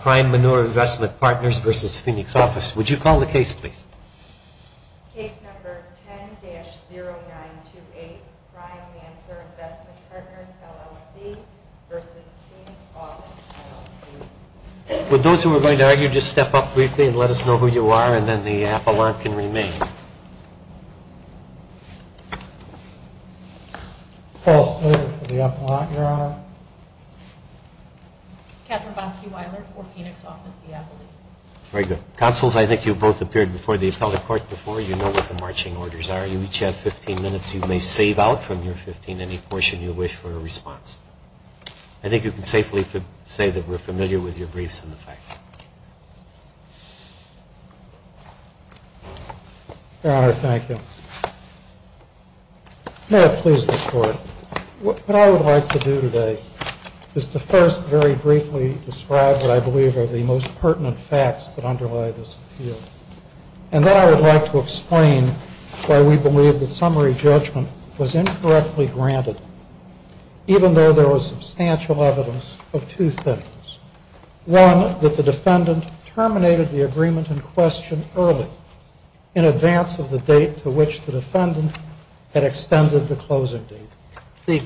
Prime Manur Investment Partners v. Phoenix Office. Would you call the case, please? Case number 10-0928, Prime Mansur Investment Partners, LLC v. Phoenix Office, LLC. For those who are going to argue, just step up briefly and let us know who you are, and then the appellant can remain. Very good. Counselors, I think you both appeared before the appellate court before. You know what the marching orders are. You each have 15 minutes. You may save out from your 15 any portion you wish for a response. I think you can safely say that we're familiar with your briefs and the facts. Your Honor, thank you. May it please the Court. What I would like to do today is to first very briefly describe what I believe are the most pertinent facts that underlie this appeal. And then I would like to explain why we believe that summary judgment was incorrectly granted, even though there was substantial evidence of two things. One, that the defendant terminated the agreement in question early, in advance of the date to which the defendant had extended the closing date. The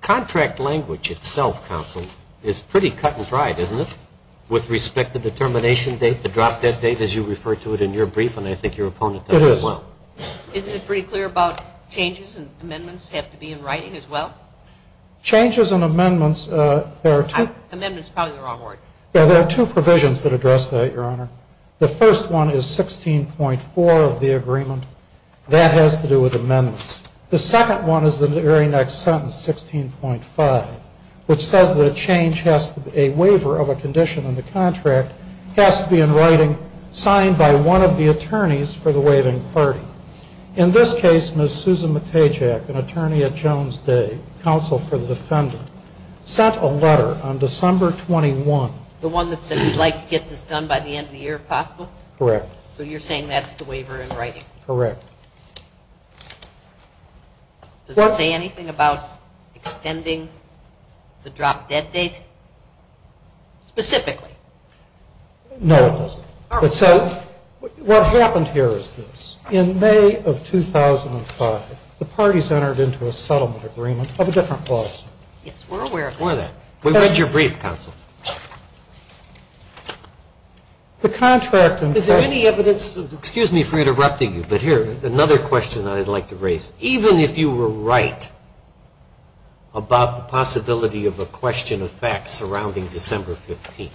contract language itself, Counsel, is pretty cut and dried, isn't it, with respect to the termination date, the drop-dead date, as you refer to it in your brief, and I think your opponent does as well. It is. Isn't it pretty clear about changes and amendments have to be in writing as well? Changes and amendments, there are two provisions that address that, Your Honor. The first one is 16.4 of the agreement. That has to do with amendments. The second one is the very next sentence, 16.5, which says that a waiver of a condition in the contract has to be in writing, signed by one of the attorneys for the waiving party. In this case, Ms. Susan Matejak, an attorney at Jones Day, counsel for the defendant, sent a letter on December 21. The one that said we'd like to get this done by the end of the year, if possible? Correct. So you're saying that's the waiver in writing? Correct. Does it say anything about extending the drop-dead date specifically? No, it doesn't. What happened here is this. In May of 2005, the parties entered into a settlement agreement of a different clause. Yes, we're aware of that. We read your brief, counsel. Is there any evidence, excuse me for interrupting you, but here, another question I'd like to raise. Even if you were right about the possibility of a question of facts surrounding December 15,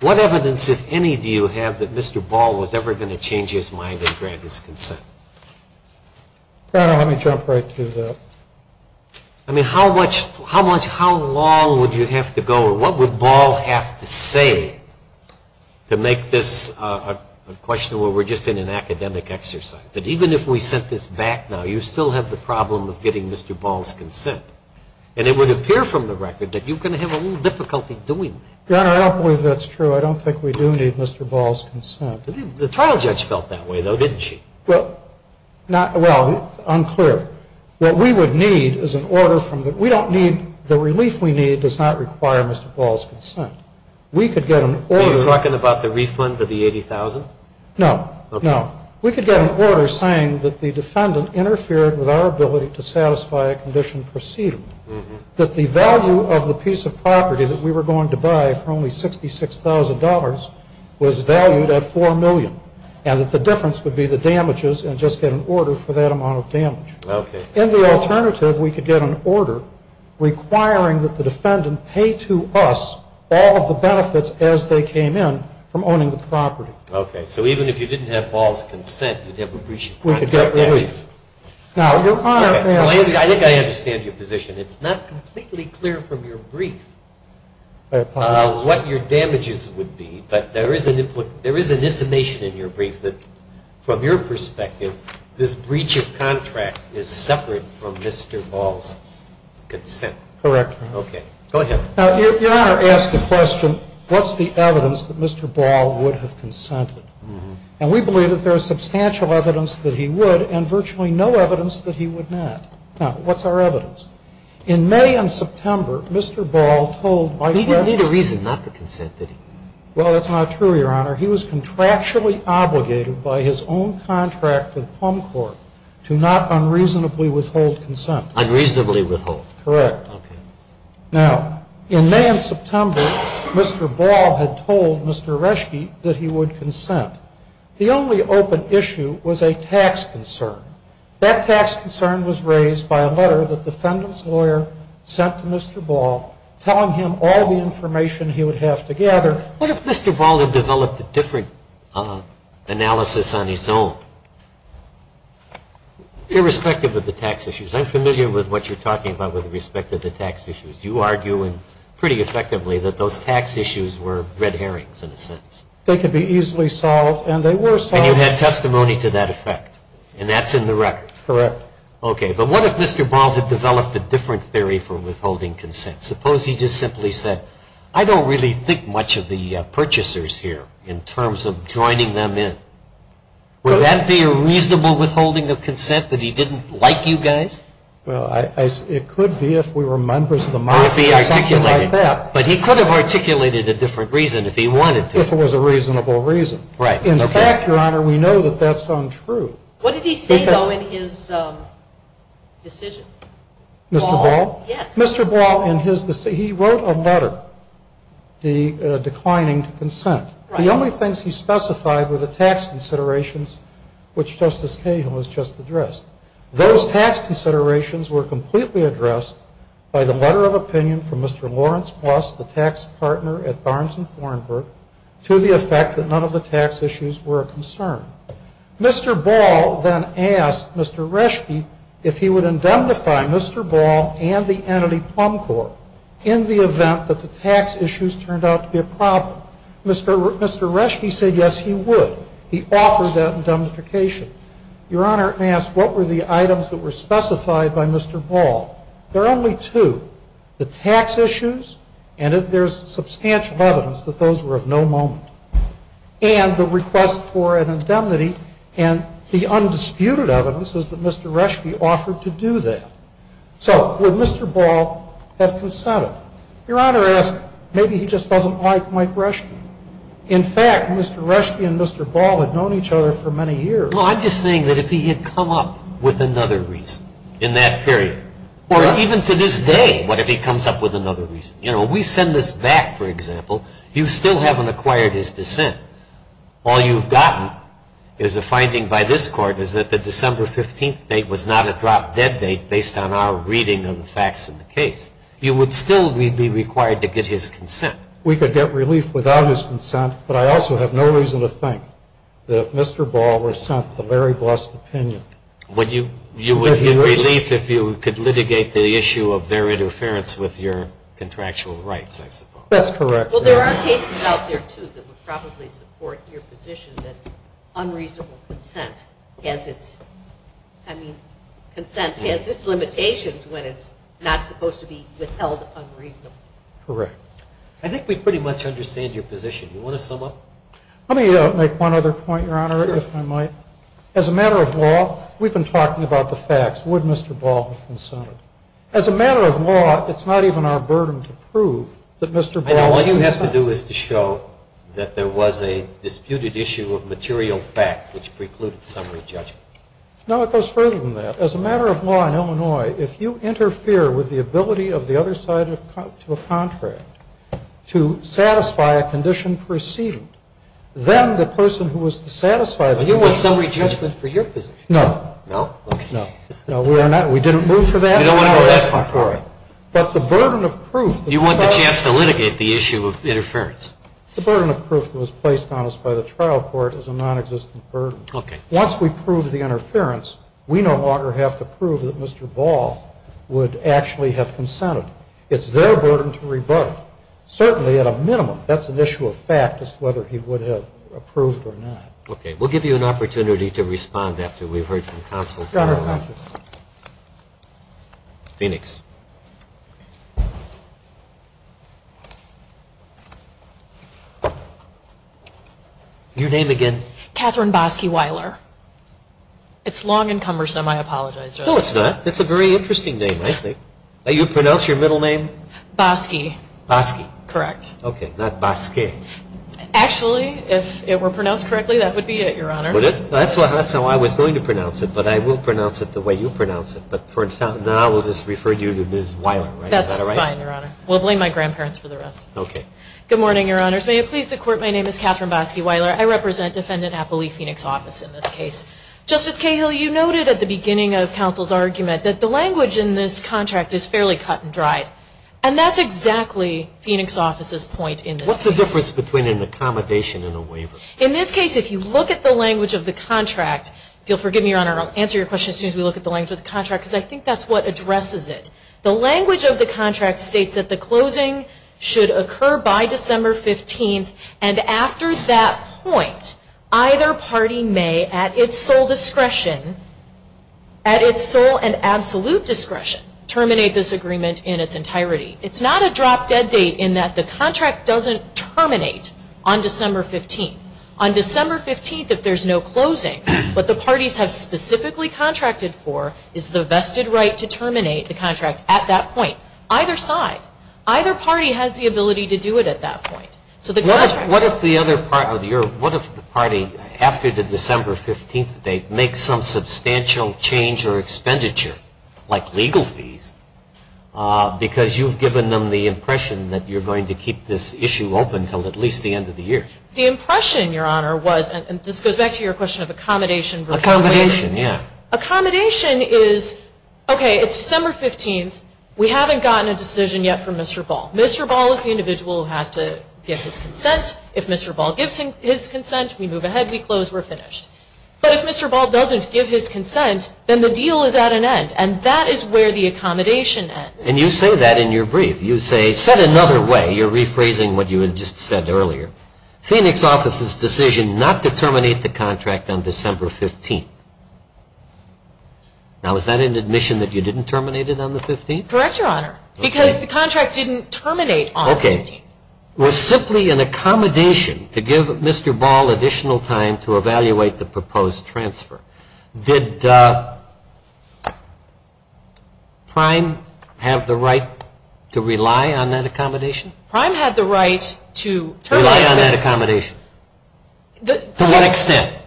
what evidence, if any, do you have that Mr. Ball was ever going to change his mind and grant his consent? Let me jump right to that. I mean, how much, how long would you have to go, what would Ball have to say to make this a question where we're just in an academic exercise? That even if we sent this back now, you still have the problem of getting Mr. Ball's consent. And it would appear from the record that you're going to have a little difficulty doing that. Your Honor, I don't believe that's true. I don't think we do need Mr. Ball's consent. The trial judge felt that way, though, didn't she? Well, unclear. What we would need is an order from the, we don't need, the relief we need does not require Mr. Ball's consent. We could get an order. Are you talking about the refund of the $80,000? No, no. We could get an order saying that the defendant interfered with our ability to satisfy a condition proceeding, that the value of the piece of property that we were going to buy for only $66,000 was valued at $40,000. And that the difference would be the damages and just get an order for that amount of damage. Okay. In the alternative, we could get an order requiring that the defendant pay to us all of the benefits as they came in from owning the property. Okay. So even if you didn't have Ball's consent, you'd have a breach of contract? We could get relief. I think I understand your position. It's not completely clear from your brief what your damages would be. But there is an intimation in your brief that from your perspective, this breach of contract is separate from Mr. Ball's consent. Correct. Okay. Go ahead. Now, Your Honor, ask the question, what's the evidence that Mr. Ball would have consented? And we believe that there is substantial evidence that he would and virtually no evidence that he would not. Now, what's our evidence? In May and September, Mr. Ball told by fact... He didn't need a reason not to consent, did he? Well, that's not true, Your Honor. He was contractually obligated by his own contract with Plum Court to not unreasonably withhold consent. Unreasonably withhold? Correct. Now, in May and September, Mr. Ball had told Mr. Reschke that he would consent. The only open issue was a tax concern. That tax concern was raised by a letter that the defendant's lawyer sent to Mr. Ball telling him all the information he would have to gather. What if Mr. Ball had developed a different analysis on his own, irrespective of the tax issues? I'm familiar with what you're talking about with respect to the tax issues. You argue pretty effectively that those tax issues were red herrings in a sense. They could be easily solved, and they were solved... And you had testimony to that effect, and that's in the record. Correct. Okay, but what if Mr. Ball had developed a different theory for withholding consent? Suppose he just simply said, I don't really think much of the purchasers here in terms of joining them in. Would that be a reasonable withholding of consent that he didn't like you guys? Well, it could be if we were members of the mafia or something like that. But he could have articulated a different reason if he wanted to. If it was a reasonable reason. In fact, Your Honor, we know that that's untrue. What did he say, though, in his decision? Mr. Ball, in his decision, he wrote a letter declining to consent. The only things he specified were the tax considerations, which Justice Cahill has just addressed. Those tax considerations were completely addressed by the letter of opinion from Mr. Lawrence Plus, the tax partner at Barnes & Thornburg, to the effect that none of the tax issues were a concern. Mr. Ball then asked Mr. Reschke if he would indemnify Mr. Ball and the entity Plum Corps in the event that the tax issues turned out to be a problem. Mr. Reschke said yes, he would. He offered that indemnification. Your Honor, may I ask, what were the items that were specified by Mr. Ball? There are only two. The tax issues, and there's substantial evidence that those were of no moment. And the request for an indemnity, and the undisputed evidence is that Mr. Reschke offered to do that. So would Mr. Ball have consented? Your Honor asks, maybe he just doesn't like Mike Reschke. In fact, Mr. Reschke and Mr. Ball had known each other for many years. Well, I'm just saying that if he had come up with another reason in that period, or even to this day, what if he comes up with another reason? You know, we send this back, for example, you still haven't acquired his dissent. All you've gotten is a finding by this Court is that the December 15th date was not a drop-dead date based on our reading of the facts of the case. You would still be required to get his consent. We could get relief without his consent, but I also have no reason to think that if Mr. Ball were sent the Larry Bloss' opinion, Would you get relief if you could litigate the issue of their interference with your contractual rights, I suppose? That's correct. Well, there are cases out there, too, that would probably support your position that unreasonable consent has its, I mean, Correct. I think we pretty much understand your position. You want to sum up? Let me make one other point, Your Honor, if I might. As a matter of law, we've been talking about the facts. Would Mr. Ball have consented? As a matter of law, it's not even our burden to prove that Mr. Ball All you have to do is to show that there was a disputed issue of material fact which precluded summary judgment. No, it goes further than that. As a matter of law in Illinois, if you interfere with the ability of the other side to a contract to satisfy a condition preceded, Then the person who was satisfied But you want summary judgment for your position. No. No? Okay. No, we didn't move for that. You don't want to go that far for it. But the burden of proof You want the chance to litigate the issue of interference. The burden of proof that was placed on us by the trial court is a nonexistent burden. Okay. Once we prove the interference, we no longer have to prove that Mr. Ball would actually have consented. It's their burden to rebut. Certainly, at a minimum, that's an issue of fact as to whether he would have approved or not. Okay. We'll give you an opportunity to respond after we've heard from counsel. Your Honor, thank you. Phoenix. Your name again? Kathryn Bosky-Weiler. It's long and cumbersome. I apologize. No, it's not. It's a very interesting name, I think. You pronounce your middle name? Bosky. Bosky. Correct. Okay. Not Bos-kay. Actually, if it were pronounced correctly, that would be it, Your Honor. Would it? That's how I was going to pronounce it. But I will pronounce it the way you pronounce it. But for now, we'll just refer you to Ms. Weiler. Is that all right? That's fine, Your Honor. We'll blame my grandparents for the rest. Okay. Good morning, Your Honors. May it please the Court, my name is Kathryn Bosky-Weiler. I represent Defendant Appley, Phoenix Office, in this case. Justice Cahill, you noted at the beginning of counsel's argument that the language in this contract is fairly cut and dried. And that's exactly Phoenix Office's point in this case. What's the difference between an accommodation and a waiver? In this case, if you look at the language of the contract, if you'll forgive me, Your Honor, I'll answer your question as soon as we look at the language of the contract, because I think that's what addresses it. The language of the contract states that the closing should occur by December 15th, and after that point, either party may, at its sole discretion, at its sole and absolute discretion, terminate this agreement in its entirety. It's not a drop-dead date in that the contract doesn't terminate on December 15th. On December 15th, if there's no closing, what the parties have specifically contracted for is the vested right to terminate the contract at that point, either side. Either party has the ability to do it at that point. What if the party, after the December 15th date, makes some substantial change or expenditure, like legal fees, because you've given them the impression that you're going to keep this issue open until at least the end of the year? The impression, Your Honor, was, and this goes back to your question of accommodation versus waiver. Accommodation, yeah. Accommodation is, okay, it's December 15th. We haven't gotten a decision yet from Mr. Ball. Mr. Ball is the individual who has to give his consent. If Mr. Ball gives his consent, we move ahead, we close, we're finished. But if Mr. Ball doesn't give his consent, then the deal is at an end, and that is where the accommodation ends. And you say that in your brief. You say, said another way, you're rephrasing what you had just said earlier, Phoenix Office's decision not to terminate the contract on December 15th. Now, is that an admission that you didn't terminate it on the 15th? Correct, Your Honor. Because the contract didn't terminate on the 15th. Okay. It was simply an accommodation to give Mr. Ball additional time to evaluate the proposed transfer. Did Prime have the right to rely on that accommodation? Prime had the right to terminate. Rely on that accommodation. To what extent?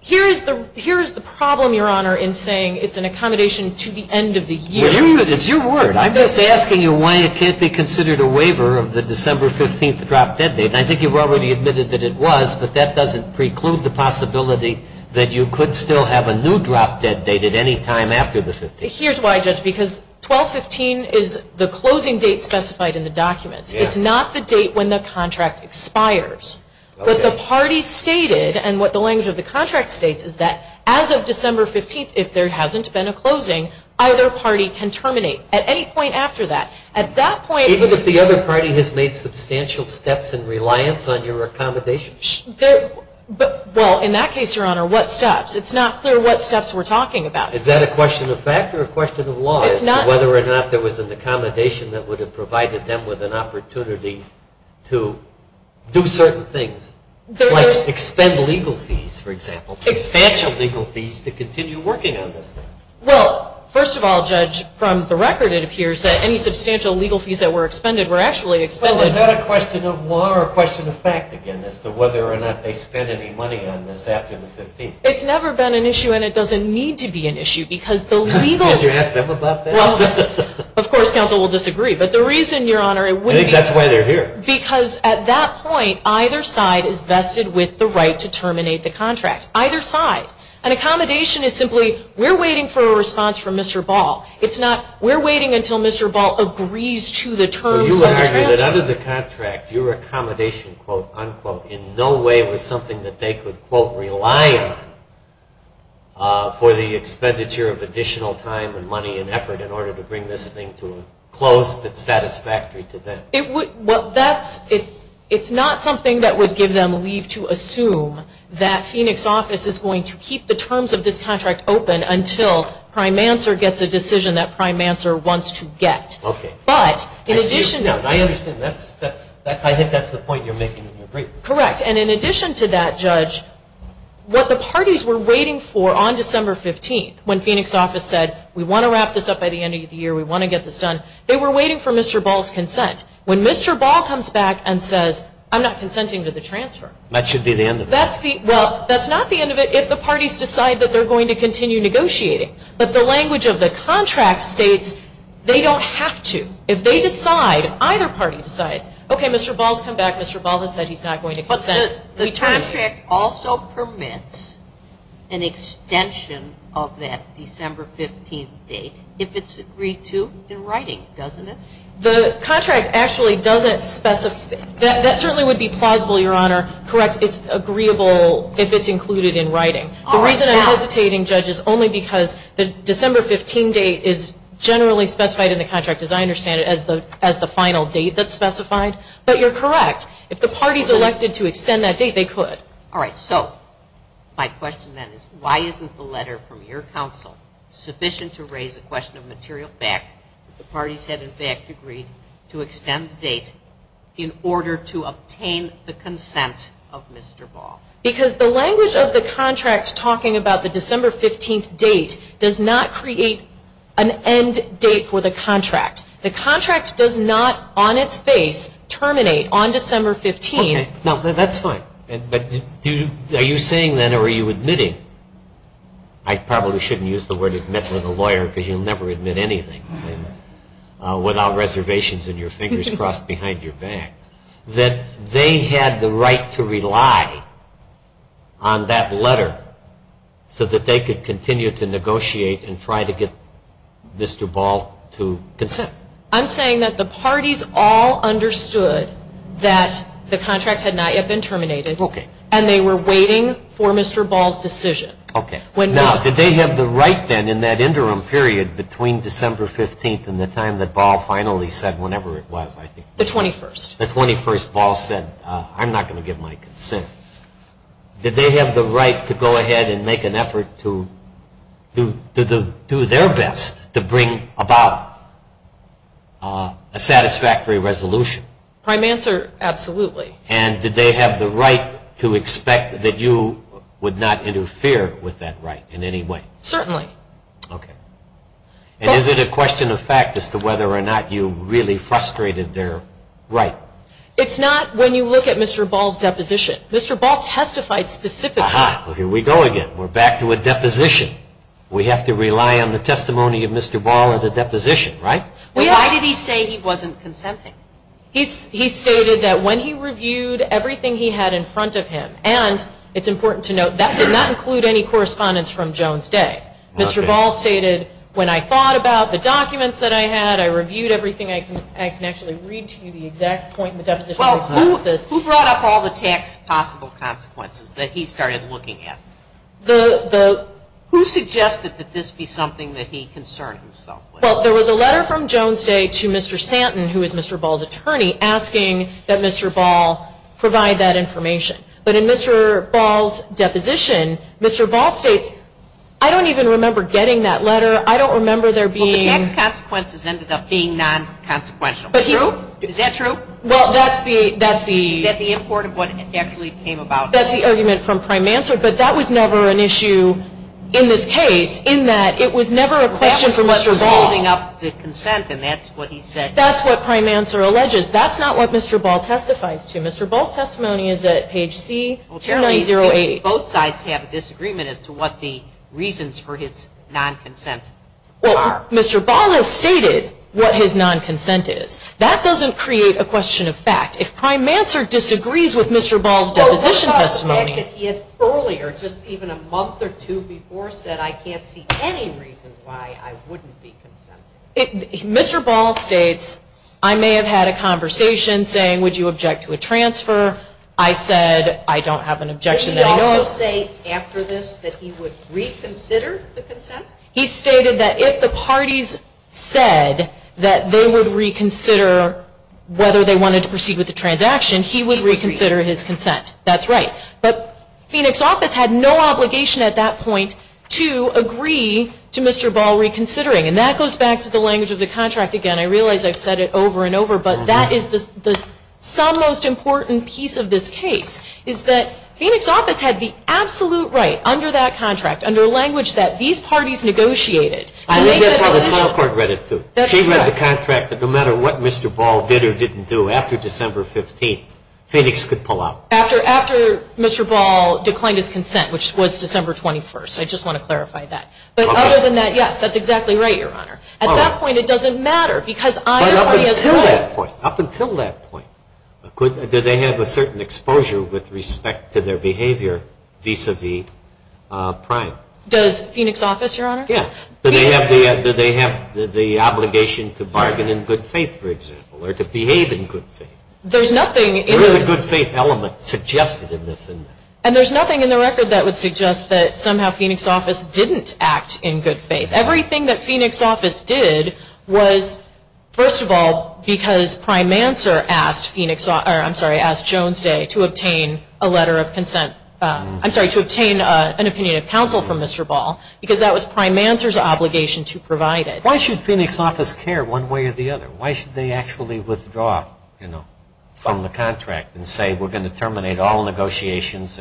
Here is the problem, Your Honor, in saying it's an accommodation to the end of the year. It's your word. I'm just asking you why it can't be considered a waiver of the December 15th drop-dead date. I think you've already admitted that it was, but that doesn't preclude the possibility that you could still have a new drop-dead date at any time after the 15th. Here's why, Judge, because 12-15 is the closing date specified in the documents. It's not the date when the contract expires. What the parties stated and what the language of the contract states is that as of December 15th, if there hasn't been a closing, either party can terminate at any point after that. At that point, even if the other party has made substantial steps in reliance on your accommodation. Well, in that case, Your Honor, what steps? It's not clear what steps we're talking about. Is that a question of fact or a question of law? It's not. Whether or not there was an accommodation that would have provided them with an opportunity to do certain things, like expend legal fees, for example, substantial legal fees to continue working on this thing. Well, first of all, Judge, from the record it appears that any substantial legal fees that were expended were actually expended. Well, is that a question of law or a question of fact, again, as to whether or not they spent any money on this after the 15th? It's never been an issue and it doesn't need to be an issue because the legal... Did you ask them about that? Of course, counsel will disagree, but the reason, Your Honor, it would be... I think that's why they're here. Because at that point, either side is vested with the right to terminate the contract. Either side. An accommodation is simply, we're waiting for a response from Mr. Ball. It's not, we're waiting until Mr. Ball agrees to the terms of the transfer. You argue that under the contract, your accommodation, quote, unquote, in no way was something that they could, quote, rely on for the expenditure of additional time and money and effort in order to bring this thing to a close that's satisfactory to them. It would, well, that's, it's not something that would give them leave to assume that Phoenix office is going to keep the terms of this contract open until prime answer gets a decision that prime answer wants to get. Okay. But, in addition... I understand. I think that's the point you're making. Correct. And in addition to that, Judge, what the parties were waiting for on December 15th, when Phoenix office said, we want to wrap this up by the end of the year, we want to get this done, they were waiting for Mr. Ball's consent. When Mr. Ball comes back and says, I'm not consenting to the transfer. That should be the end of it. That's the, well, that's not the end of it if the parties decide that they're going to continue negotiating. But the language of the contract states they don't have to. If they decide, either party decides, okay, Mr. Ball's come back. Mr. Ball has said he's not going to consent. But the contract also permits an extension of that December 15th date if it's agreed to in writing, doesn't it? The contract actually doesn't specify. That certainly would be plausible, Your Honor. Correct. It's agreeable if it's included in writing. The reason I'm hesitating, Judge, is only because the December 15th date is generally specified in the contract, as I understand it, as the final date that's specified. But you're correct. If the party's elected to extend that date, they could. All right. So my question, then, is why isn't the letter from your counsel sufficient to raise the question of material fact that the parties have, in fact, agreed to extend the date in order to obtain the consent of Mr. Ball? Because the language of the contract talking about the December 15th date does not create an end date for the contract. The contract does not, on its face, terminate on December 15th. Okay. No, that's fine. But are you saying, then, or are you admitting? I probably shouldn't use the word admit with a lawyer because you'll never admit anything without reservations and your fingers crossed behind your back that they had the right to rely on that letter so that they could continue to negotiate and try to get Mr. Ball to consent. I'm saying that the parties all understood that the contract had not yet been terminated. Okay. And they were waiting for Mr. Ball's decision. Okay. Now, did they have the right, then, in that interim period between December 15th and the time that Ball finally said whenever it was, I think? The 21st. The 21st Ball said, I'm not going to give my consent. Did they have the right to go ahead and make an effort to do their best to bring about a satisfactory resolution? Prime answer, absolutely. And did they have the right to expect that you would not interfere with that right in any way? Certainly. Okay. And is it a question of fact as to whether or not you really frustrated their right? It's not when you look at Mr. Ball's deposition. Mr. Ball testified specifically. Aha, here we go again. We're back to a deposition. We have to rely on the testimony of Mr. Ball at the deposition, right? Why did he say he wasn't consenting? He stated that when he reviewed everything he had in front of him, and it's important to note, that did not include any correspondence from Jones Day. Mr. Ball stated, when I thought about the documents that I had, I reviewed everything. I can actually read to you the exact point in the deposition that says this. Well, who brought up all the tax possible consequences that he started looking at? Who suggested that this be something that he concerned himself with? Well, there was a letter from Jones Day to Mr. Santon, who is Mr. Ball's attorney, asking that Mr. Ball provide that information. But in Mr. Ball's deposition, Mr. Ball states, I don't even remember getting that letter. I don't remember there being. The tax consequences ended up being non-consequential. Is that true? Well, that's the. Is that the import of what actually came about? That's the argument from Prime Answer, but that was never an issue in this case, in that it was never a question from Mr. Ball. That was what was holding up the consent, and that's what he said. That's what Prime Answer alleges. That's not what Mr. Ball testifies to. Mr. Ball's testimony is at page C-908. Both sides have a disagreement as to what the reasons for his non-consent are. Well, Mr. Ball has stated what his non-consent is. That doesn't create a question of fact. If Prime Answer disagrees with Mr. Ball's deposition testimony. Well, what about the fact that he had earlier, just even a month or two before, said I can't see any reason why I wouldn't be consenting? Mr. Ball states, I may have had a conversation saying, would you object to a transfer? I said, I don't have an objection. Did he also say after this that he would reconsider the consent? He stated that if the parties said that they would reconsider whether they wanted to proceed with the transaction, he would reconsider his consent. That's right. But Phoenix office had no obligation at that point to agree to Mr. Ball reconsidering. And that goes back to the language of the contract. Again, I realize I've said it over and over, but that is the sum most important piece of this case, is that Phoenix office had the absolute right under that contract, under language that these parties negotiated. I think that's how the trial court read it, too. She read the contract that no matter what Mr. Ball did or didn't do after December 15th, Phoenix could pull out. After Mr. Ball declined his consent, which was December 21st. I just want to clarify that. But other than that, yes, that's exactly right, Your Honor. At that point, it doesn't matter because either party has a right. But up until that point, do they have a certain exposure with respect to their behavior vis-à-vis Prime? Does Phoenix office, Your Honor? Yes. Do they have the obligation to bargain in good faith, for example, or to behave in good faith? There's nothing in the record. There is a good faith element suggested in this. And there's nothing in the record that would suggest that somehow Phoenix office didn't act in good faith. Everything that Phoenix office did was, first of all, because Prime Manser asked Jones Day to obtain a letter of consent. I'm sorry, to obtain an opinion of counsel from Mr. Ball because that was Prime Manser's obligation to provide it. Why should Phoenix office care one way or the other? Why should they actually withdraw from the contract and say we're going to terminate all negotiations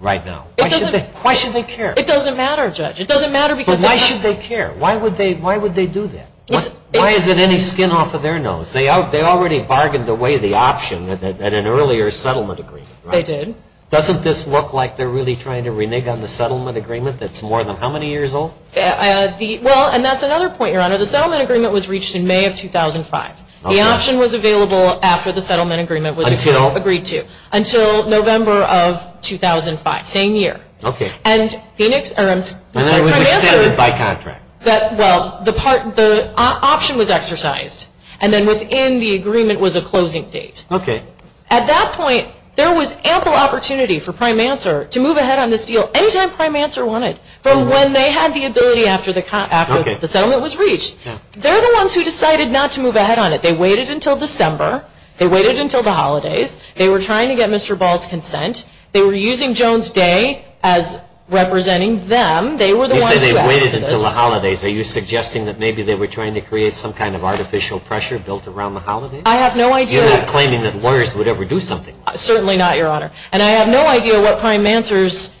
right now? Why should they care? It doesn't matter, Judge. It doesn't matter because they have... But why should they care? Why would they do that? Why is it any skin off of their nose? They already bargained away the option at an earlier settlement agreement, right? They did. Doesn't this look like they're really trying to renege on the settlement agreement that's more than how many years old? Well, and that's another point, Your Honor. The settlement agreement was reached in May of 2005. The option was available after the settlement agreement was agreed to until November of 2005, same year. Okay. And Phoenix... And that was extended by contract. Well, the option was exercised, and then within the agreement was a closing date. Okay. At that point, there was ample opportunity for Prime Manser to move ahead on this deal anytime Prime Manser wanted, from when they had the ability after the settlement was reached. They're the ones who decided not to move ahead on it. They waited until December. They waited until the holidays. They were trying to get Mr. Ball's consent. They were using Jones Day as representing them. They were the ones who asked for this. You say they waited until the holidays. Are you suggesting that maybe they were trying to create some kind of artificial pressure built around the holidays? I have no idea. You're not claiming that lawyers would ever do something. Certainly not, Your Honor. And I have no idea what Prime Manser's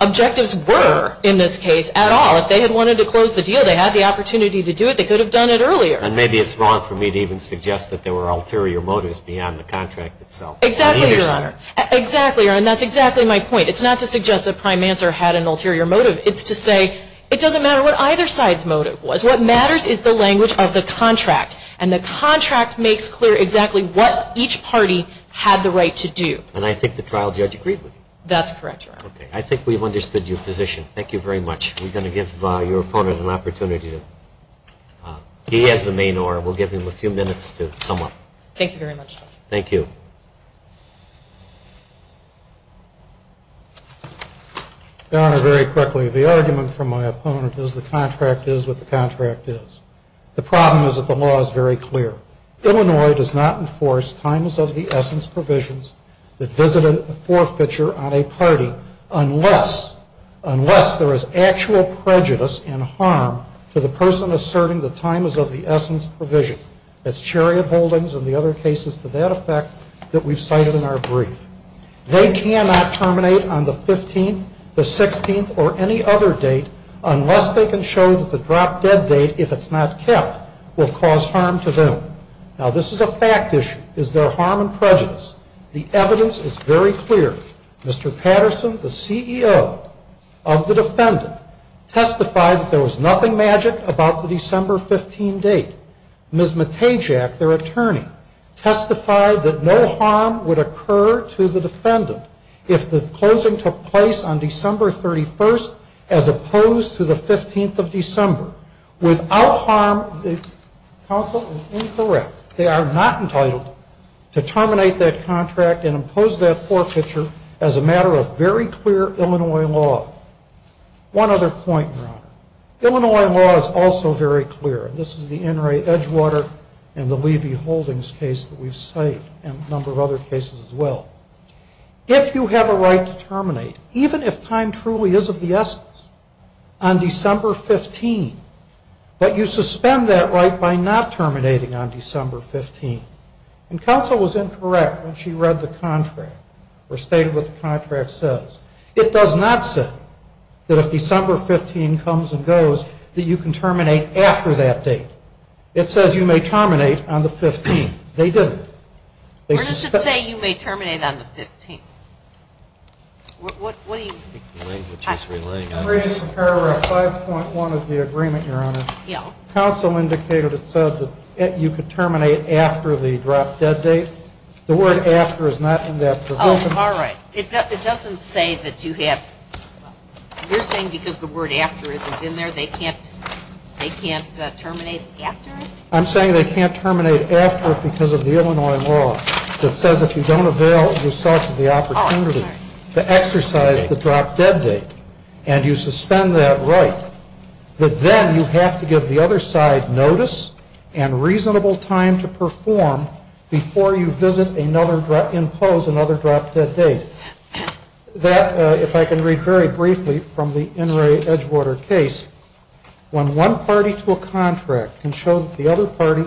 objectives were in this case at all. If they had wanted to close the deal, they had the opportunity to do it. They could have done it earlier. And maybe it's wrong for me to even suggest that there were ulterior motives beyond the contract itself. Exactly, Your Honor. Exactly, Your Honor. And that's exactly my point. It's not to suggest that Prime Manser had an ulterior motive. It's to say it doesn't matter what either side's motive was. What matters is the language of the contract. And the contract makes clear exactly what each party had the right to do. And I think the trial judge agreed with you. That's correct, Your Honor. Okay. I think we've understood your position. Thank you very much. We're going to give your opponent an opportunity. He has the main order. We'll give him a few minutes to sum up. Thank you very much. Thank you. Your Honor, very quickly, the argument from my opponent is the contract is what the contract is. The problem is that the law is very clear. Illinois does not enforce times of the essence provisions that visit a forfeiture on a party unless there is actual prejudice and harm to the person asserting the times of the essence provision. That's Chariot Holdings and the other cases to that effect that we've cited in our brief. They cannot terminate on the 15th, the 16th, or any other date unless they can show that the drop-dead date, if it's not kept, will cause harm to them. Now, this is a fact issue. Is there harm and prejudice? The evidence is very clear. Mr. Patterson, the CEO of the defendant, testified that there was nothing magic about the December 15 date. Ms. Matejak, their attorney, testified that no harm would occur to the defendant if the closing took place on December 31st as opposed to the 15th of December. Without harm, the counsel is incorrect. They are not entitled to terminate that contract and impose that forfeiture as a matter of very clear Illinois law. One other point, Your Honor. Illinois law is also very clear. This is the NRA Edgewater and the Levy Holdings case that we've cited and a number of other cases as well. If you have a right to terminate, even if time truly is of the essence, on December 15, but you suspend that right by not terminating on December 15, and counsel was incorrect when she read the contract or stated what the contract says, it does not say that if December 15 comes and goes that you can terminate after that date. It says you may terminate on the 15th. They didn't. Where does it say you may terminate on the 15th? What are you? I think the language is relating on this. Paragraph 5.1 of the agreement, Your Honor. Yeah. Counsel indicated it said that you could terminate after the drop dead date. The word after is not in that provision. Oh, all right. It doesn't say that you have, you're saying because the word after isn't in there they can't terminate after? I'm saying they can't terminate after because of the Illinois law that says if you don't avail yourself of the opportunity to exercise the drop dead date and you suspend that right, that then you have to give the other side notice and reasonable time to perform before you visit another, impose another drop dead date. That, if I can read very briefly from the Inouye Edgewater case, when one party to a contract can show that the other party,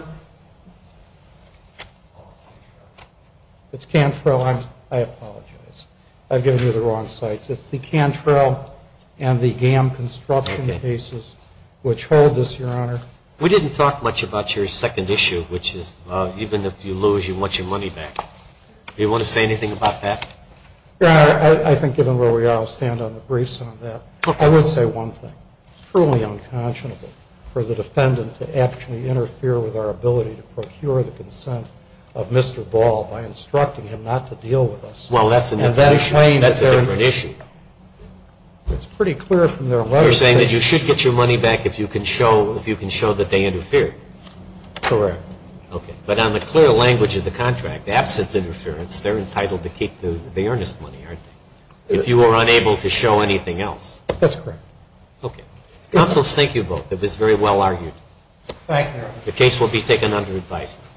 it's Cantrell. I apologize. I've given you the wrong sites. It's the Cantrell and the GAM construction cases which hold this, Your Honor. We didn't talk much about your second issue, which is even if you lose, you want your money back. Do you want to say anything about that? Your Honor, I think given where we are, I'll stand on the briefs on that. Okay. I would say one thing. It's truly unconscionable for the defendant to actually interfere with our ability to procure the consent of Mr. Ball by instructing him not to deal with us. Well, that's a different issue. It's pretty clear from their letter that you should get your money back if you can show, if you can show that they interfered. Correct. Okay. But on the clear language of the contract, absence interference, they're entitled to keep the earnest money, aren't they, if you were unable to show anything else? That's correct. Okay. Counsel, thank you both. It was very well argued. Thank you, Your Honor. The case will be taken under advisement.